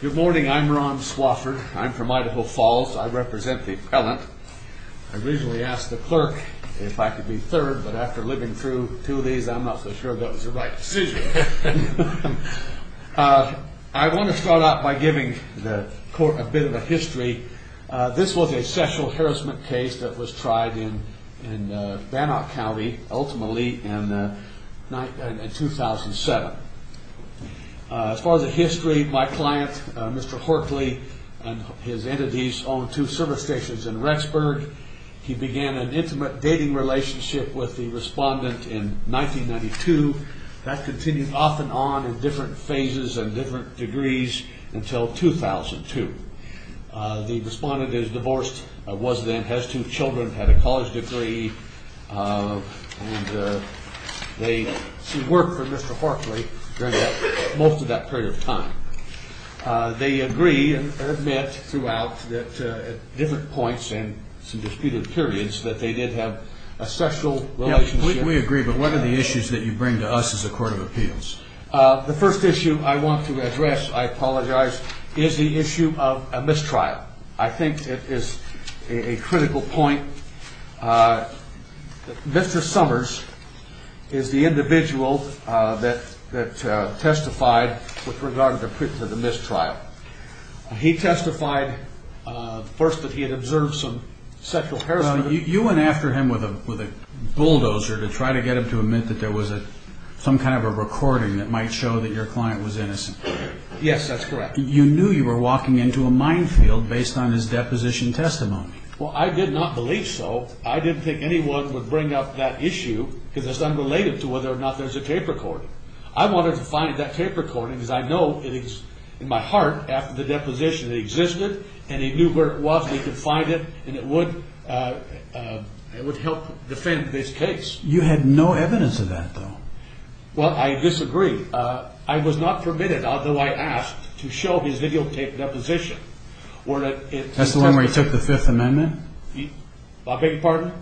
Good morning. I'm Ron Swafford. I'm from Idaho Falls. I represent the appellant. I originally asked the clerk if I could be third, but after living through two of these, I'm not so sure that was the right decision. I want to start out by giving the court a bit of a history. This was a sexual harassment case that was tried in Bannock County, ultimately, in 2007. As far as the history, my client, Mr. Horkley, and his entities own two service stations in Rexburg. He began an intimate dating relationship with the respondent in 1992. That continued off and on in different phases and different degrees until 2002. The respondent is divorced, was then, has two children, had a college degree, and they worked for Mr. Horkley during most of that period of time. They agree and admit throughout at different points and some disputed periods that they did have a sexual relationship. We agree, but what are the issues that you bring to us as a court of appeals? The first issue I want to address, I apologize, is the issue of a mistrial. I think it is a critical point. Mr. Summers is the individual that testified with regard to the mistrial. He testified first that he had observed some sexual harassment. You went after him with a bulldozer to try to get him to admit that there was some kind of a recording that might show that your client was innocent. Yes, that's correct. You knew you were walking into a minefield based on his deposition testimony. Well, I did not believe so. I didn't think anyone would bring up that issue because it's unrelated to whether or not there's a tape recording. I wanted to find that tape recording because I know it is in my heart after the deposition. It existed, and he knew where it was. He could find it, and it would help defend this case. You had no evidence of that, though. Well, I disagree. I was not permitted, although I asked, to show his videotaped deposition. That's the one where he took the Fifth Amendment? I beg your pardon?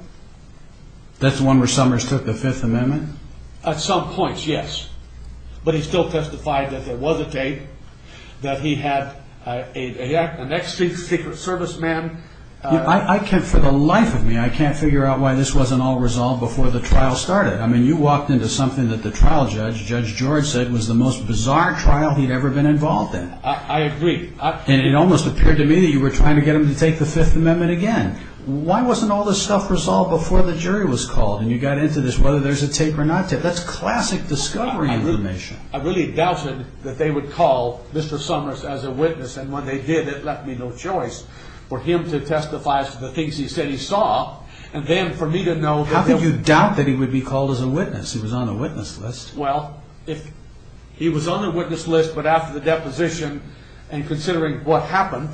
That's the one where Summers took the Fifth Amendment? At some points, yes. But he still testified that there was a tape, that he had an ex-Secret Service man. For the life of me, I can't figure out why this wasn't all resolved before the trial started. I mean, you walked into something that the trial judge, Judge George, said was the most bizarre trial he'd ever been involved in. I agree. And it almost appeared to me that you were trying to get him to take the Fifth Amendment again. Why wasn't all this stuff resolved before the jury was called? And you got into this, whether there's a tape or not tape. That's classic discovery information. I really doubted that they would call Mr. Summers as a witness. And when they did, it left me no choice for him to testify as to the things he said he saw. And then for me to know that there was... How could you doubt that he would be called as a witness? He was on the witness list. Well, if he was on the witness list, but after the deposition, and considering what happened,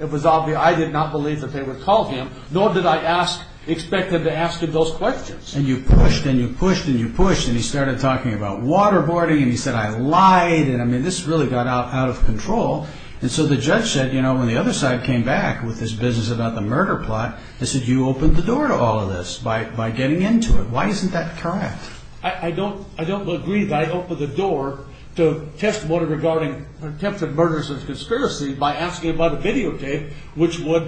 it was obvious I did not believe that they would call him, nor did I expect them to ask him those questions. And you pushed, and you pushed, and you pushed, and he started talking about waterboarding, and he said, I lied, and I mean, this really got out of control. And so the judge said, you know, when the other side came back with his business about the murder plot, they said you opened the door to all of this by getting into it. Why isn't that correct? I don't agree that I opened the door to testimony regarding attempted murders and conspiracy by asking about a videotape which would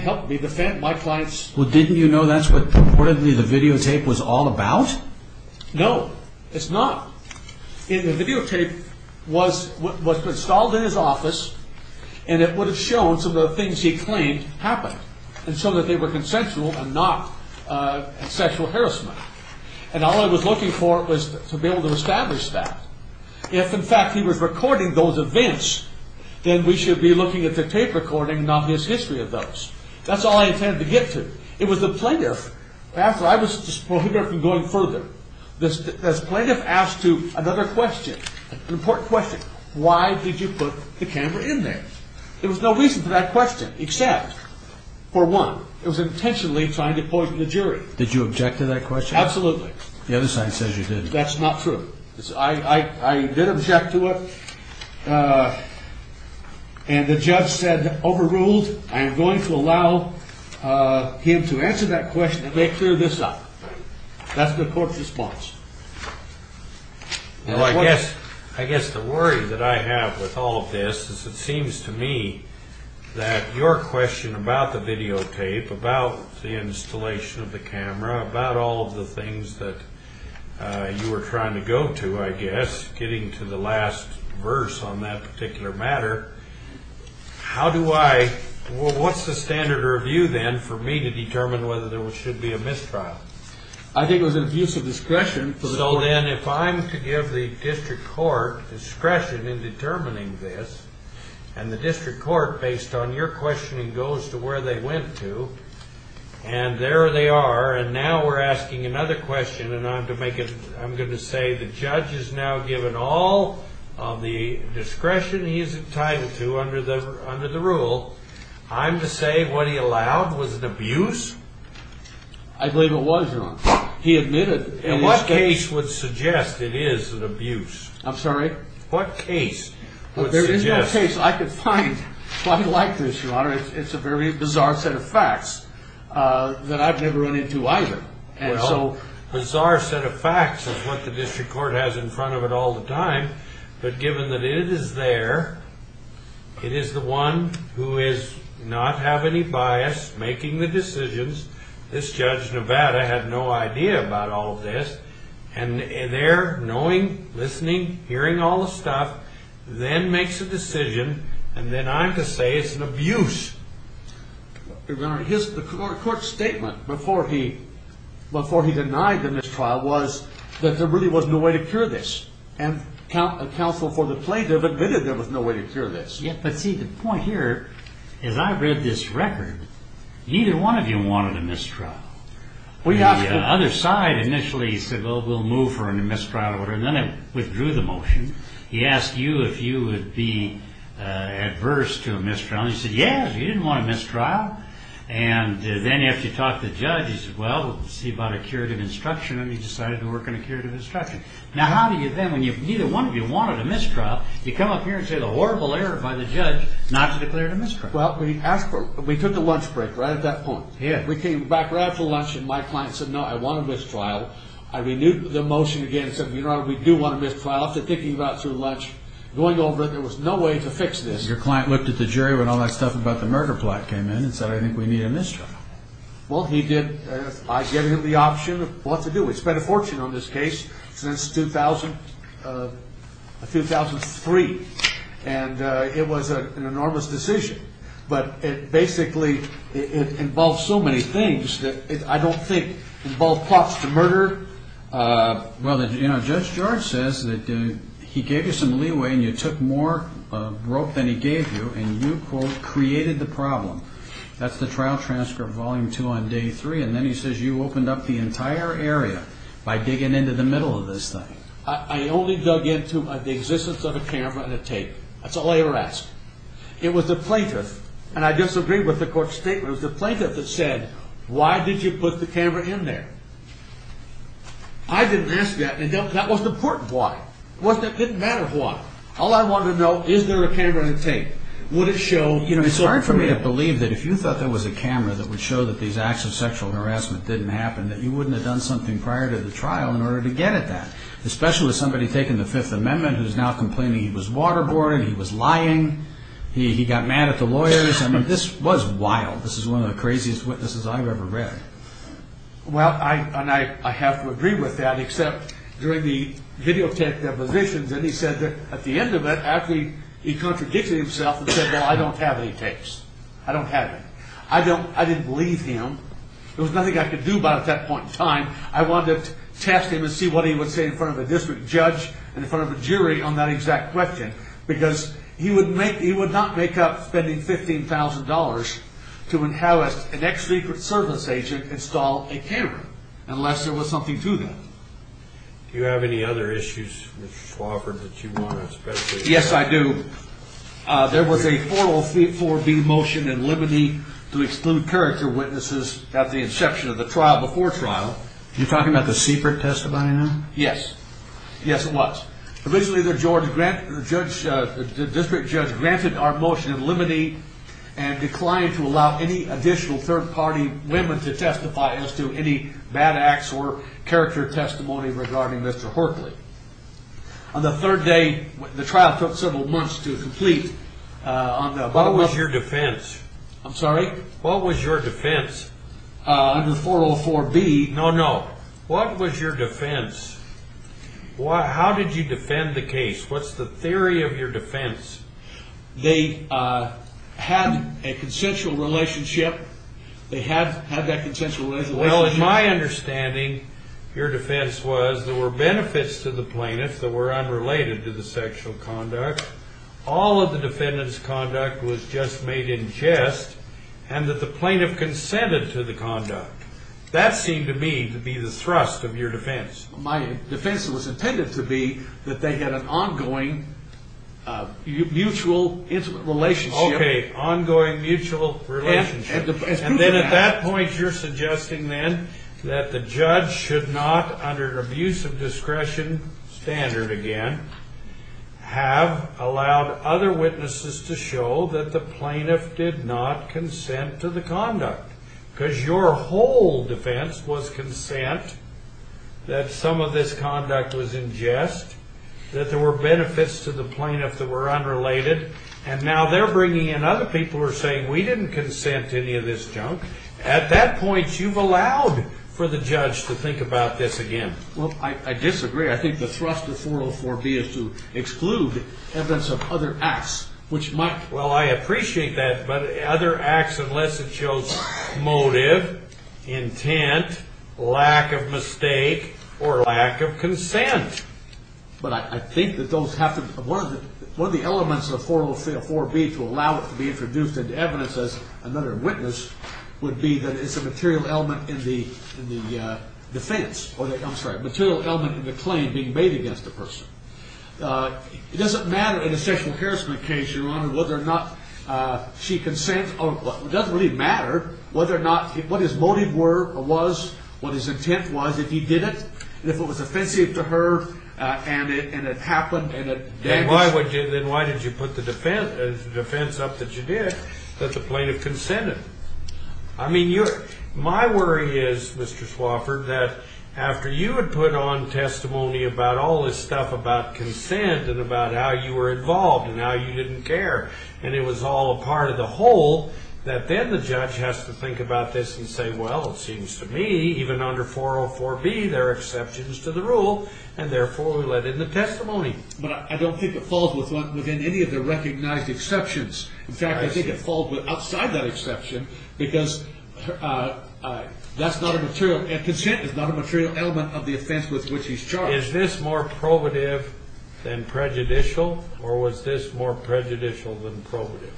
help me defend my clients. Well, didn't you know that's what reportedly the videotape was all about? No, it's not. The videotape was installed in his office, and it would have shown some of the things he claimed happened, and so that they were consensual and not sexual harassment. And all I was looking for was to be able to establish that. If, in fact, he was recording those events, then we should be looking at the tape recording, not his history of those. That's all I intended to get to. It was the plaintiff, after I was prohibited from going further, the plaintiff asked another question, an important question. Why did you put the camera in there? There was no reason for that question except, for one, it was intentionally trying to poison the jury. Did you object to that question? Absolutely. The other side says you did. That's not true. I did object to it, and the judge said, overruled. I am going to allow him to answer that question and make clear this up. That's the court's response. Well, I guess the worry that I have with all of this is it seems to me that your question about the videotape, about the installation of the camera, about all of the things that you were trying to go to, I guess, getting to the last verse on that particular matter, how do I, what's the standard review then for me to determine whether there should be a mistrial? I think it was an abuse of discretion. So then if I'm to give the district court discretion in determining this, and the district court, based on your questioning, goes to where they went to, and there they are, and now we're asking another question, and I'm going to say the judge has now given all of the discretion he is entitled to under the rule. I'm to say what he allowed was an abuse? I believe it was, Your Honor. He admitted. In what case would suggest it is an abuse? I'm sorry? What case would suggest? There is no case I could find quite like this, Your Honor. It's a very bizarre set of facts that I've never run into either. Well, bizarre set of facts is what the district court has in front of it all the time, but given that it is there, it is the one who does not have any bias making the decisions. This Judge Nevada had no idea about all of this, and there, knowing, listening, hearing all the stuff, then makes a decision, and then I'm to say it's an abuse. Your Honor, the court's statement before he denied the mistrial was that there really was no way to cure this, and counsel for the plaintiff admitted there was no way to cure this. But see, the point here is I read this record. Neither one of you wanted a mistrial. The other side initially said, well, we'll move for a mistrial, and then it withdrew the motion. He asked you if you would be adverse to a mistrial, and you said yes, you didn't want a mistrial. And then after you talked to the judge, he said, well, let's see about a curative instruction, and he decided to work on a curative instruction. Now, how do you then, when neither one of you wanted a mistrial, you come up here and say the horrible error by the judge not to declare it a mistrial? Well, we took a lunch break right at that point. We came back right after lunch, and my client said, no, I want a mistrial. I renewed the motion again and said, Your Honor, we do want a mistrial. After thinking about it through lunch, going over it, there was no way to fix this. Your client looked at the jury when all that stuff about the murder plot came in and said, I think we need a mistrial. Well, he did. I gave him the option of what to do. We've spent a fortune on this case since 2003, and it was an enormous decision. But it basically involves so many things that I don't think involve plots to murder. Well, Judge George says that he gave you some leeway, and you took more rope than he gave you, and you, quote, created the problem. That's the trial transcript, Volume 2, on Day 3. And then he says you opened up the entire area by digging into the middle of this thing. I only dug into the existence of a camera and a tape. That's all I ever asked. It was the plaintiff, and I disagree with the court's statement. It was the plaintiff that said, Why did you put the camera in there? I didn't ask that, and that wasn't important why. It didn't matter why. All I wanted to know, is there a camera and a tape? Would it show? Well, it's hard for me to believe that if you thought there was a camera that would show that these acts of sexual harassment didn't happen, that you wouldn't have done something prior to the trial in order to get at that, especially with somebody taking the Fifth Amendment, who's now complaining he was waterboarding, he was lying, he got mad at the lawyers. I mean, this was wild. This is one of the craziest witnesses I've ever read. Well, and I have to agree with that, except during the videotaped depositions, and he said that at the end of it, actually, he contradicted himself and said, Well, I don't have any tapes. I don't have any. I didn't believe him. There was nothing I could do about it at that point in time. I wanted to test him and see what he would say in front of a district judge and in front of a jury on that exact question, because he would not make up spending $15,000 to have an ex-Secret Service agent install a camera, unless there was something to them. Do you have any other issues, Mr. Swofford, that you want to especially... Yes, I do. There was a 4034B motion in limine to exclude character witnesses at the inception of the trial before trial. You're talking about the Seabrook testimony now? Yes. Yes, it was. Originally, the district judge granted our motion in limine and declined to allow any additional third-party women to testify as to any bad acts or character testimony regarding Mr. Horkley. On the third day, the trial took several months to complete. What was your defense? I'm sorry? What was your defense? Under 404B... No, no. What was your defense? How did you defend the case? What's the theory of your defense? They had a consensual relationship. They had that consensual relationship. Well, in my understanding, your defense was there were benefits to the plaintiff that were unrelated to the sexual conduct. All of the defendant's conduct was just made in jest and that the plaintiff consented to the conduct. That seemed to me to be the thrust of your defense. My defense was intended to be that they had an ongoing mutual intimate relationship. Okay. Ongoing mutual relationship. And then at that point, you're suggesting then that the judge should not, under an abuse of discretion standard again, have allowed other witnesses to show that the plaintiff did not consent to the conduct. Because your whole defense was consent that some of this conduct was in jest, that there were benefits to the plaintiff that were unrelated, and now they're bringing in other people who are saying, we didn't consent to any of this junk. At that point, you've allowed for the judge to think about this again. Well, I disagree. I think the thrust of 404B is to exclude evidence of other acts, which might. Well, I appreciate that. But other acts, unless it shows motive, intent, lack of mistake, or lack of consent. But I think that one of the elements of 404B to allow it to be introduced into evidence as another witness would be that it's a material element in the defense. I'm sorry, a material element in the claim being made against the person. It doesn't matter in a sexual harassment case, Your Honor, whether or not she consents. It doesn't really matter what his motive was, what his intent was, if he did it. If it was offensive to her, and it happened, and it damaged her. Then why did you put the defense up that you did that the plaintiff consented? I mean, my worry is, Mr. Swofford, that after you had put on testimony about all this stuff about consent, and about how you were involved, and how you didn't care, and it was all a part of the whole, that then the judge has to think about this and say, well, it seems to me, even under 404B, there are exceptions to the rule, and therefore we let in the testimony. But I don't think it falls within any of the recognized exceptions. In fact, I think it falls outside that exception, because consent is not a material element of the offense with which he's charged. Is this more probative than prejudicial, or was this more prejudicial than probative?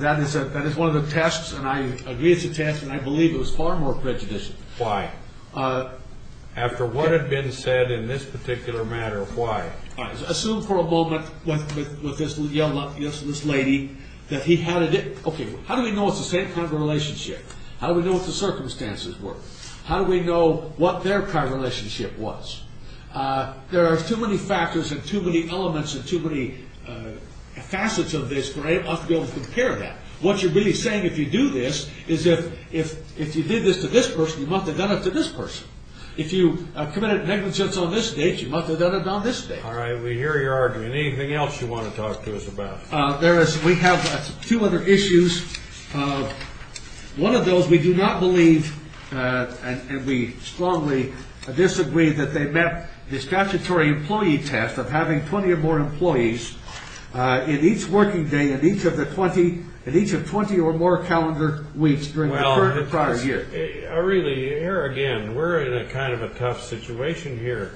That is one of the tests, and I agree it's a test, and I believe it was far more prejudicial. Why? After what had been said in this particular matter, why? Assume for a moment what this lady, that he had a different, okay, how do we know it's the same kind of relationship? How do we know what the circumstances were? How do we know what their kind of relationship was? There are too many factors and too many elements and too many facets of this for anyone to be able to compare that. What you're really saying, if you do this, is if you did this to this person, you must have done it to this person. If you committed negligence on this date, you must have done it on this date. All right. We hear your argument. Anything else you want to talk to us about? We have two other issues. One of those, we do not believe, and we strongly disagree, that they met the statutory employee test of having 20 or more employees in each working day and each of the 20 or more calendar weeks during the prior year. Really, here again, we're in kind of a tough situation here,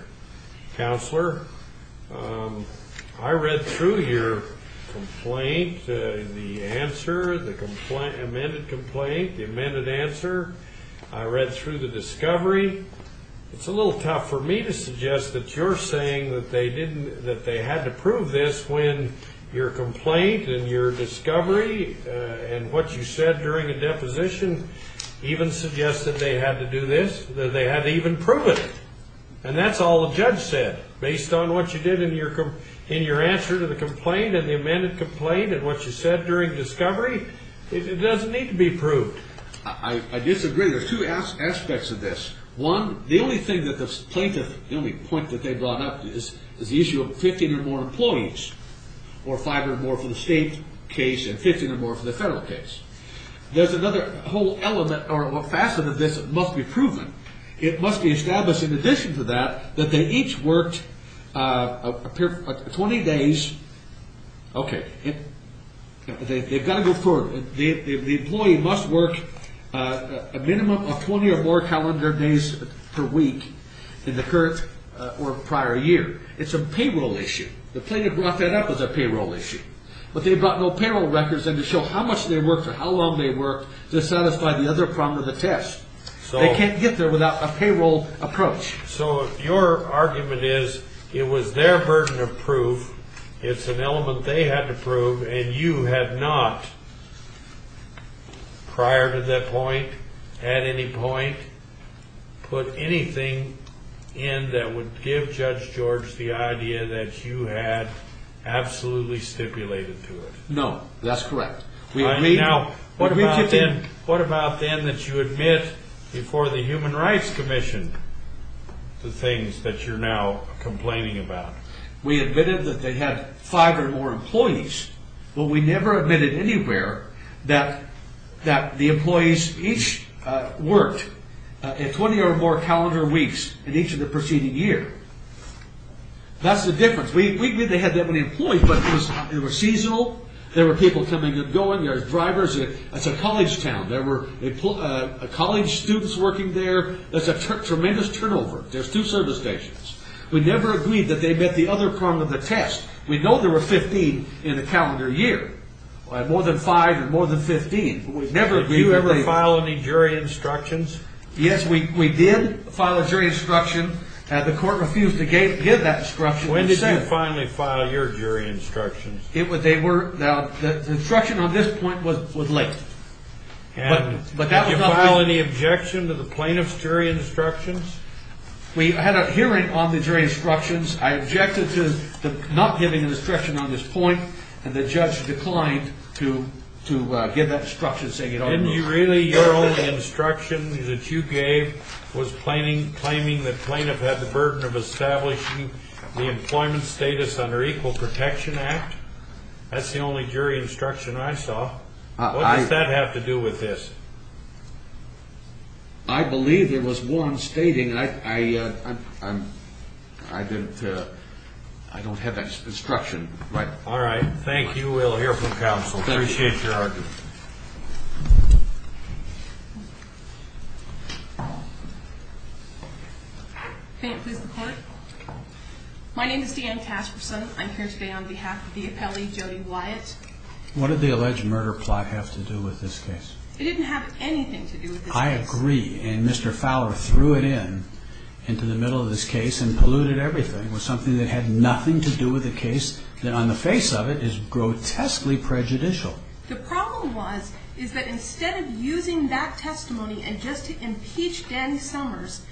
Counselor. I read through your complaint, the answer, the amended complaint, the amended answer. I read through the discovery. It's a little tough for me to suggest that you're saying that they had to prove this when your complaint and your discovery and what you said during a deposition even suggested they had to do this, that they had to even prove it. And that's all the judge said. Based on what you did in your answer to the complaint and the amended complaint and what you said during discovery, it doesn't need to be proved. I disagree. There's two aspects of this. One, the only thing that the plaintiff, the only point that they brought up is the issue of 15 or more employees or five or more for the state case and 15 or more for the federal case. There's another whole element or facet of this that must be proven. It must be established in addition to that that they each worked 20 days. Okay. They've got to go forward. The employee must work a minimum of 20 or more calendar days per week in the current or prior year. It's a payroll issue. The plaintiff brought that up as a payroll issue. But they brought no payroll records in to show how much they worked or how long they worked to satisfy the other prong of the test. They can't get there without a payroll approach. So your argument is it was their burden of proof. It's an element they had to prove, and you have not, prior to that point, at any point, put anything in that would give Judge George the idea that you had absolutely stipulated to it. No, that's correct. Now, what about then that you admit before the Human Rights Commission the things that you're now complaining about? We admitted that they had five or more employees, but we never admitted anywhere that the employees each worked 20 or more calendar weeks in each of the preceding year. That's the difference. We knew they had that many employees, but it was seasonal. There were people coming and going. There were drivers. It's a college town. There were college students working there. There's a tremendous turnover. There's two service stations. We never agreed that they met the other prong of the test. We know there were 15 in a calendar year, more than five and more than 15. Did you ever file any jury instructions? Yes, we did file a jury instruction. The court refused to give that instruction. When did you finally file your jury instructions? The instruction on this point was late. Did you file any objection to the plaintiff's jury instructions? We had a hearing on the jury instructions. I objected to not giving an instruction on this point, and the judge declined to give that instruction, saying it ought to move. Didn't you really? Your only instruction that you gave was claiming the plaintiff had the burden of establishing the employment status under Equal Protection Act. That's the only jury instruction I saw. What does that have to do with this? I believe there was one stating I don't have that instruction. All right. Thank you. We'll hear from counsel. Appreciate your argument. May it please the Court? My name is Deanne Casperson. I'm here today on behalf of the appellee, Jody Wyatt. What did the alleged murder plot have to do with this case? It didn't have anything to do with this case. I agree. And Mr. Fowler threw it in into the middle of this case and polluted everything. It was something that had nothing to do with a case that, on the face of it, is grotesquely prejudicial. The problem was is that instead of using that testimony and just to impeach Danny Summers,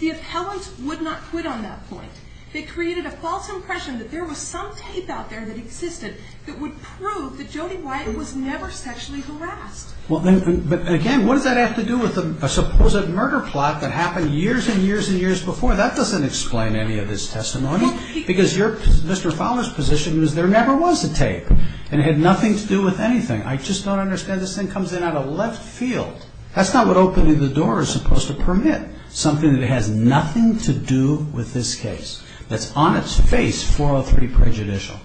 the appellants would not quit on that point. They created a false impression that there was some tape out there that existed that would prove that Jody Wyatt was never sexually harassed. Again, what does that have to do with a supposed murder plot that happened years and years and years before? That doesn't explain any of this testimony because Mr. Fowler's position was there never was a tape and it had nothing to do with anything. I just don't understand this thing comes in out of left field. That's not what opening the door is supposed to permit, something that has nothing to do with this case, that's on its face for a pretty prejudicial.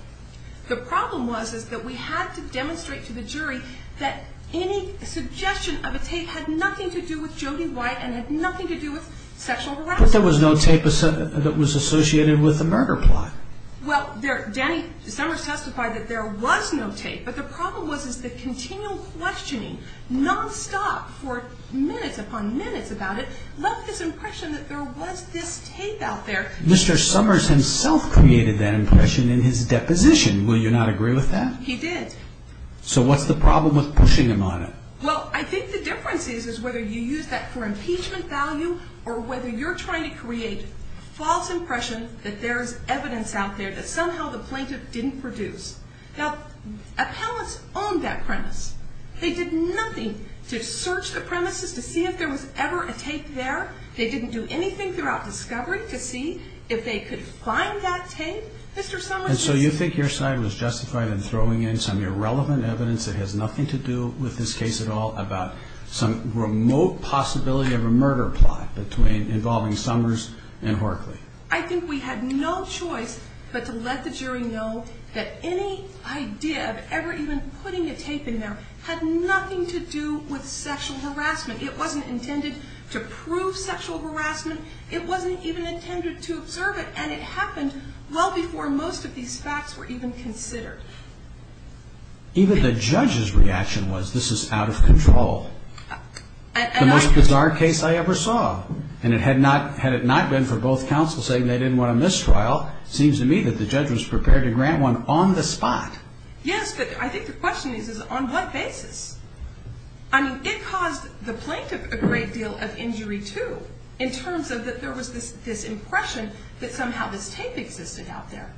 The problem was is that we had to demonstrate to the jury that any suggestion of a tape had nothing to do with Jody Wyatt and had nothing to do with sexual harassment. But there was no tape that was associated with the murder plot. Well, Danny Summers testified that there was no tape, but the problem was is that continual questioning, nonstop for minutes upon minutes about it, left this impression that there was this tape out there. Mr. Summers himself created that impression in his deposition. Will you not agree with that? He did. So what's the problem with pushing him on it? Well, I think the difference is is whether you use that for impeachment value or whether you're trying to create a false impression that there's evidence out there that somehow the plaintiff didn't produce. Now, appellants own that premise. They did nothing to search the premises to see if there was ever a tape there. They didn't do anything throughout discovery to see if they could find that tape. Mr. Summers was... that has nothing to do with this case at all about some remote possibility of a murder plot involving Summers and Horkley. I think we had no choice but to let the jury know that any idea of ever even putting a tape in there had nothing to do with sexual harassment. It wasn't intended to prove sexual harassment. It wasn't even intended to observe it, and it happened well before most of these facts were even considered. Even the judge's reaction was this is out of control. The most bizarre case I ever saw. And had it not been for both counsels saying they didn't want a mistrial, it seems to me that the judge was prepared to grant one on the spot. Yes, but I think the question is is on what basis? I mean, it caused the plaintiff a great deal of injury, too, in terms of that there was this impression that somehow this tape existed out there.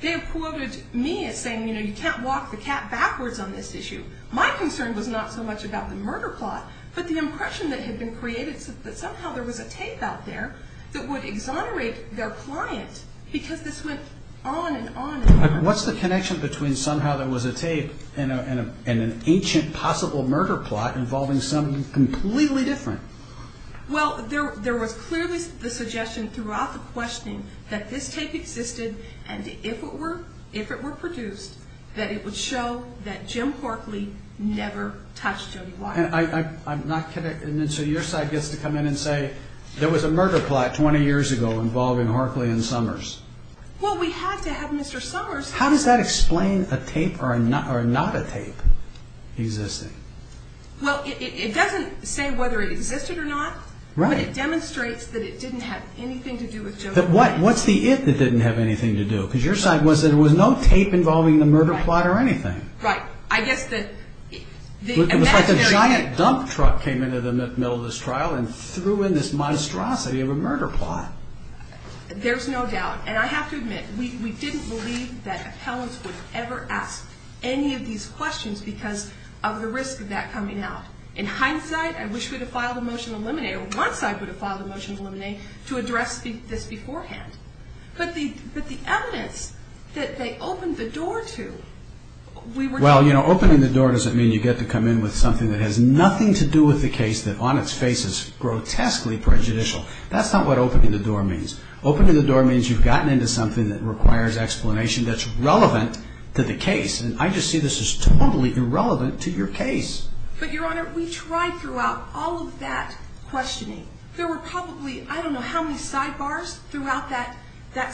They have quoted me as saying, you know, you can't walk the cat backwards on this issue. My concern was not so much about the murder plot, but the impression that had been created that somehow there was a tape out there that would exonerate their client because this went on and on and on. What's the connection between somehow there was a tape and an ancient possible murder plot involving someone completely different? Well, there was clearly the suggestion throughout the questioning that this tape existed and if it were produced, that it would show that Jim Harkley never touched Jody Walker. I'm not connected. So your side gets to come in and say there was a murder plot 20 years ago involving Harkley and Summers. Well, we had to have Mr. Summers. How does that explain a tape or not a tape existing? Well, it doesn't say whether it existed or not. Right. But it demonstrates that it didn't have anything to do with Jody Walker. What's the if it didn't have anything to do? Because your side was that there was no tape involving the murder plot or anything. Right. I guess that the imaginary tape. It was like a giant dump truck came into the middle of this trial and threw in this monstrosity of a murder plot. There's no doubt. And I have to admit, we didn't believe that appellants would ever ask any of these questions because of the risk of that coming out. In hindsight, I wish we would have filed a motion to eliminate or one side would have filed a motion to eliminate to address this beforehand. But the evidence that they opened the door to, we were... Well, you know, opening the door doesn't mean you get to come in with something that has nothing to do with the case that on its face is grotesquely prejudicial. That's not what opening the door means. Opening the door means you've gotten into something that requires explanation that's relevant to the case. And I just see this as totally irrelevant to your case. But, Your Honor, we tried throughout all of that questioning. There were probably I don't know how many sidebars throughout that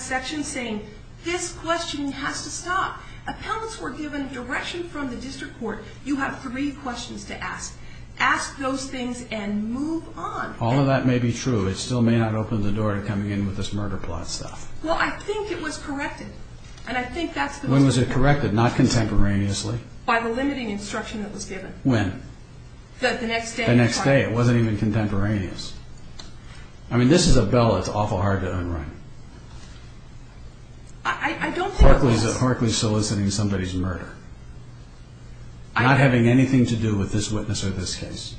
section saying this questioning has to stop. Appellants were given direction from the district court. You have three questions to ask. Ask those things and move on. All of that may be true. It still may not open the door to coming in with this murder plot stuff. Well, I think it was corrected. When was it corrected? Not contemporaneously. By the limiting instruction that was given. When? The next day. The next day. It wasn't even contemporaneous. I mean, this is a bill that's awful hard to unwrite. I don't think it was. Harkley's soliciting somebody's murder, not having anything to do with this witness or this case.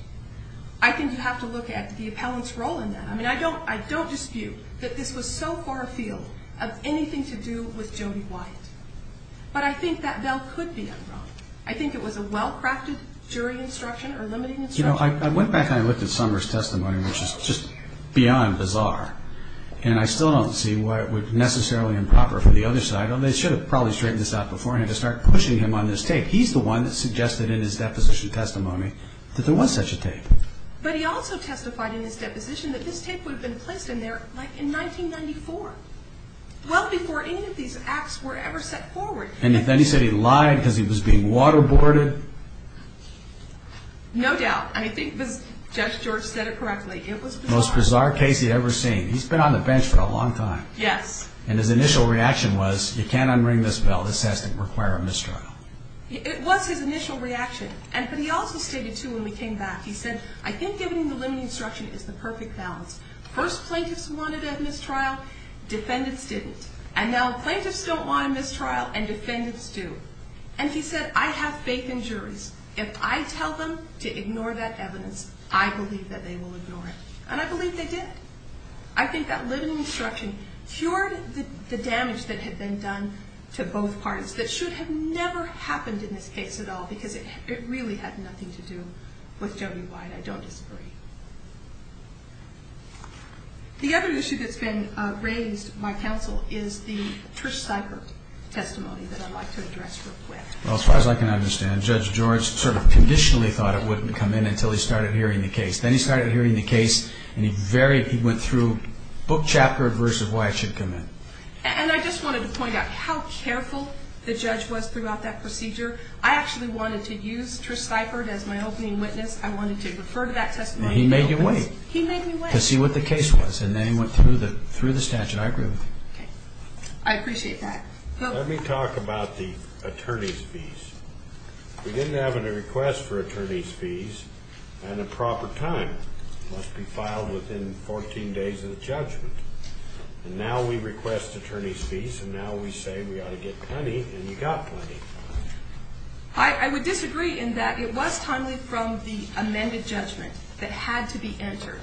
I think you have to look at the appellant's role in that. I mean, I don't dispute that this was so far afield of anything to do with Jody Wyatt. But I think that bill could be unwrote. I think it was a well-crafted jury instruction or limiting instruction. You know, I went back and I looked at Summer's testimony, which is just beyond bizarre, and I still don't see why it would necessarily improper for the other side, although they should have probably straightened this out beforehand, to start pushing him on this tape. He's the one that suggested in his deposition testimony that there was such a tape. But he also testified in his deposition that this tape would have been placed in there like in 1994, well before any of these acts were ever set forward. And then he said he lied because he was being waterboarded? No doubt. I think Judge George said it correctly. It was bizarre. Most bizarre case he'd ever seen. He's been on the bench for a long time. Yes. And his initial reaction was, you can't unwring this bill. This has to require a mistrial. It was his initial reaction. But he also stated, too, when we came back, he said, I think giving the limiting instruction is the perfect balance. First, plaintiffs wanted a mistrial. Defendants didn't. And now, plaintiffs don't want a mistrial, and defendants do. And he said, I have faith in juries. If I tell them to ignore that evidence, I believe that they will ignore it. And I believe they did. I think that limiting instruction cured the damage that had been done to both parties that should have never happened in this case at all, because it really had nothing to do with Jody Wyatt. I don't disagree. The other issue that's been raised by counsel is the Trish Seibert testimony that I'd like to address real quick. Well, as far as I can understand, Judge George sort of conditionally thought it wouldn't come in until he started hearing the case. Then he started hearing the case, and he went through book chapter versus why it should come in. And I just wanted to point out how careful the judge was throughout that procedure. I actually wanted to use Trish Seibert as my opening witness. I wanted to refer to that testimony. He made you wait. He made me wait. To see what the case was, and then he went through the statute. I agree with him. Okay. I appreciate that. Let me talk about the attorney's fees. We didn't have a request for attorney's fees, and a proper time. It must be filed within 14 days of the judgment. And now we request attorney's fees, and now we say we ought to get plenty, and you got plenty. I would disagree in that it was timely from the amended judgment that had to be entered.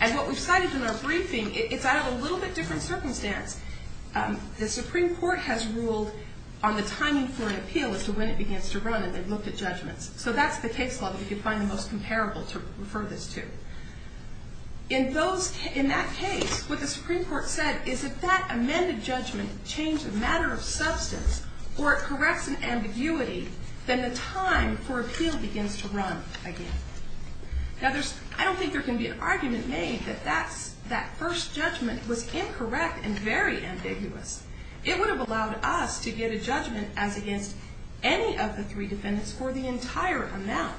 And what we've cited in our briefing, it's out of a little bit different circumstance. The Supreme Court has ruled on the timing for an appeal as to when it begins to run, and they've looked at judgments. So that's the case law that we could find the most comparable to refer this to. In that case, what the Supreme Court said is if that amended judgment changed a matter of substance, or it corrects an ambiguity, then the time for appeal begins to run again. Now, I don't think there can be an argument made that that first judgment was incorrect and very ambiguous. It would have allowed us to get a judgment as against any of the three defendants for the entire amount.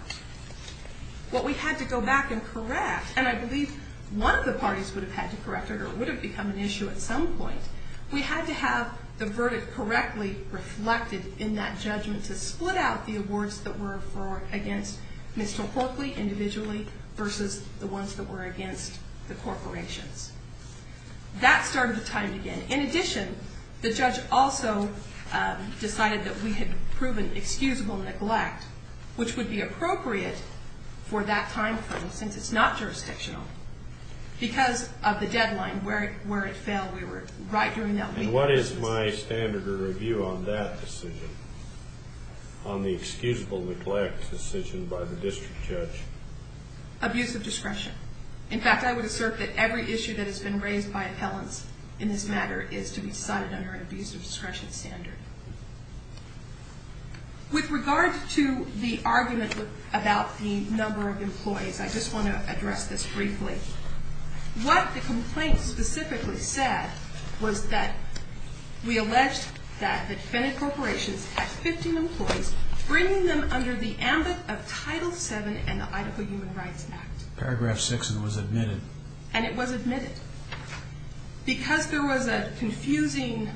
What we had to go back and correct, and I believe one of the parties would have had to correct it or it would have become an issue at some point. We had to have the verdict correctly reflected in that judgment to split out the awards that were for or against Mr. Horkley individually versus the ones that were against the corporations. That started the time again. In addition, the judge also decided that we had proven excusable neglect, which would be appropriate for that time frame since it's not jurisdictional, because of the deadline where it fell right during that week. And what is my standard of review on that decision, on the excusable neglect decision by the district judge? Abuse of discretion. In fact, I would assert that every issue that has been raised by appellants in this matter is to be decided under an abuse of discretion standard. With regard to the argument about the number of employees, I just want to address this briefly. What the complaint specifically said was that we alleged that the defendant corporations had 15 employees, bringing them under the ambit of Title VII and the Idaho Human Rights Act. Paragraph 6 was admitted. And it was admitted. Because there was a confusing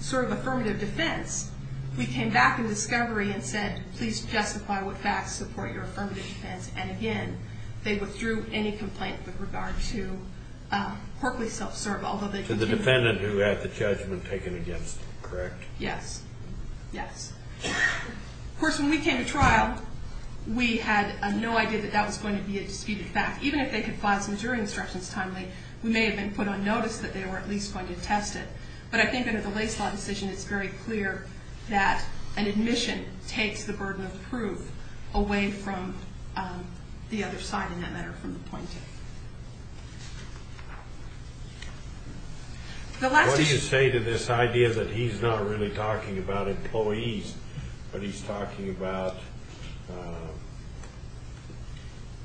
sort of affirmative defense, we came back in discovery and said, please justify what facts support your affirmative defense. And again, they withdrew any complaint with regard to Horkley self-serve, although they continue to do so. To the defendant who had the judgment taken against, correct? Yes. Yes. Of course, when we came to trial, we had no idea that that was going to be a disputed fact. Even if they could file some jury instructions timely, we may have been put on notice that they were at least going to test it. But I think under the Lace Law decision, it's very clear that an admission takes the burden of proof away from the other side in that matter, from the plaintiff. What do you say to this idea that he's not really talking about employees, but he's talking about,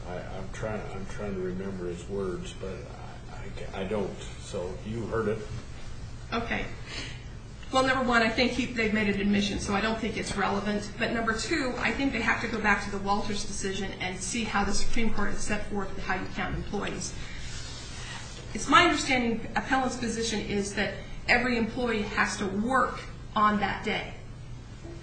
I'm trying to remember his words, but I don't. So you heard it. Okay. Well, number one, I think they've made an admission, so I don't think it's relevant. But number two, I think they have to go back to the Walters decision and see how the Supreme Court has set forth how you count employees. It's my understanding appellant's position is that every employee has to work on that day.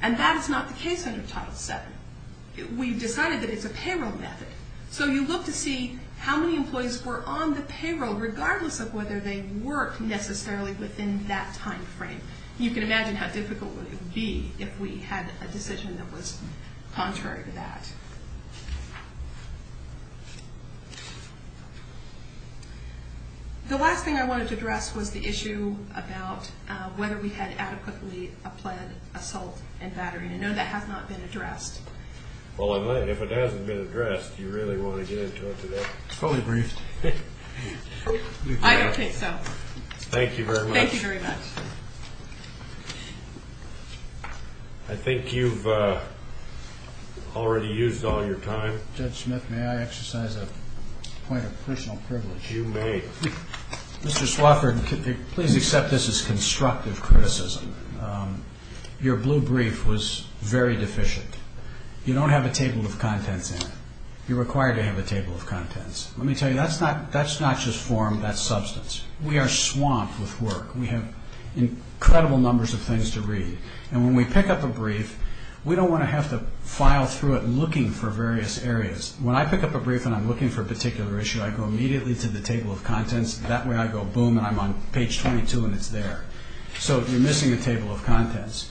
And that is not the case under Title VII. We decided that it's a payroll method. So you look to see how many employees were on the payroll, regardless of whether they worked necessarily within that time frame. You can imagine how difficult it would be if we had a decision that was contrary to that. The last thing I wanted to address was the issue about whether we had adequately applied assault and battery. I know that has not been addressed. Well, if it hasn't been addressed, do you really want to get into it today? It's probably briefed. I don't think so. Thank you very much. Thank you very much. I think you've already used all your time. Judge Smith, may I exercise a point of personal privilege? You may. Mr. Swafford, please accept this as constructive criticism. Your blue brief was very deficient. You don't have a table of contents in it. You're required to have a table of contents. Let me tell you, that's not just form, that's substance. We are swamped with work. We have incredible numbers of things to read. And when we pick up a brief, we don't want to have to file through it looking for various areas. When I pick up a brief and I'm looking for a particular issue, I go immediately to the table of contents. That way I go, boom, and I'm on page 22 and it's there. So you're missing a table of contents.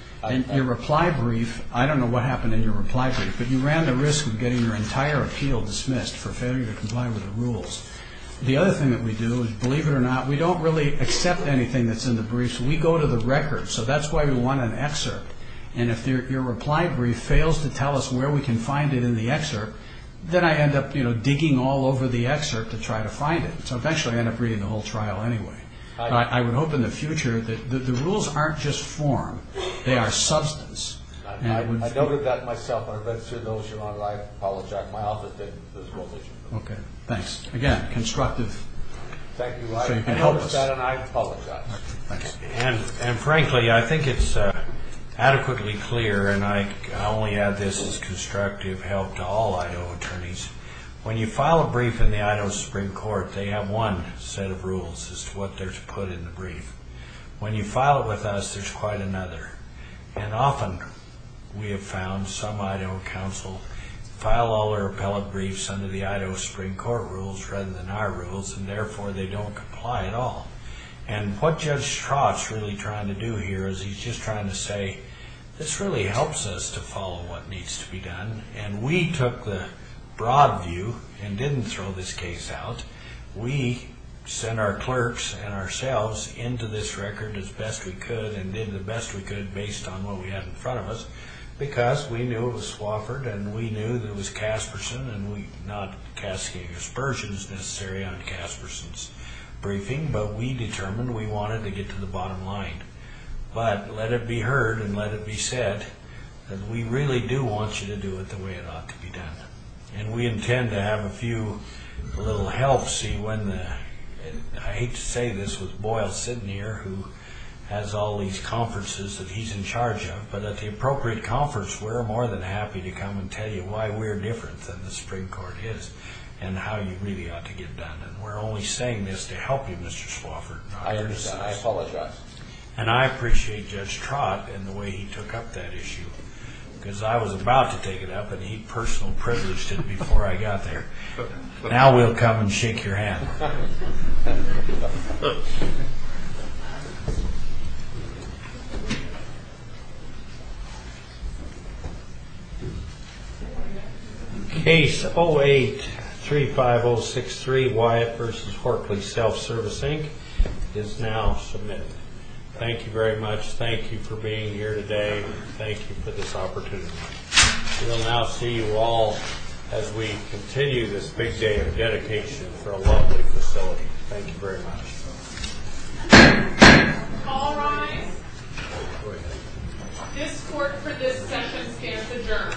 Your reply brief, I don't know what happened in your reply brief, but you ran the risk of getting your entire appeal dismissed for failure to comply with the rules. The other thing that we do is, believe it or not, we don't really accept anything that's in the briefs. We go to the records. So that's why we want an excerpt. And if your reply brief fails to tell us where we can find it in the excerpt, then I end up digging all over the excerpt to try to find it. So eventually I end up reading the whole trial anyway. I would hope in the future that the rules aren't just form. They are substance. I noted that myself. I read through those, Your Honor. I apologize. My office did as well as you. Okay, thanks. Again, constructive. Thank you. I noticed that and I apologize. And frankly, I think it's adequately clear, and I only add this as constructive help to all Idaho attorneys, when you file a brief in the Idaho Supreme Court, they have one set of rules as to what they're to put in the brief. When you file it with us, there's quite another. And often we have found some Idaho counsel file all their appellate briefs under the Idaho Supreme Court rules rather than our rules, and therefore they don't comply at all. And what Judge Strass really trying to do here is he's just trying to say, this really helps us to follow what needs to be done, and we took the broad view and didn't throw this case out. We sent our clerks and ourselves into this record as best we could and did the best we could based on what we had in front of us because we knew it was Swofford and we knew that it was Casperson and not Casperson's necessary on Casperson's briefing, but we determined we wanted to get to the bottom line. But let it be heard and let it be said that we really do want you to do it the way it ought to be done. And we intend to have a few little helps. I hate to say this with Boyle sitting here who has all these conferences that he's in charge of, but at the appropriate conference, we're more than happy to come and tell you why we're different than the Supreme Court is and how you really ought to get it done. And we're only saying this to help you, Mr. Swofford. I understand. I apologize. And I appreciate Judge Trott and the way he took up that issue because I was about to take it up and he personal privileged it before I got there. Now we'll come and shake your hand. Case 08-35063, Wyatt v. Horkley Self-Service, Inc., is now submitted. Thank you very much. Thank you for being here today. Thank you for this opportunity. We will now see you all as we continue this big day of dedication for a lovely facility. Thank you very much. All rise. This court for this session stands adjourned.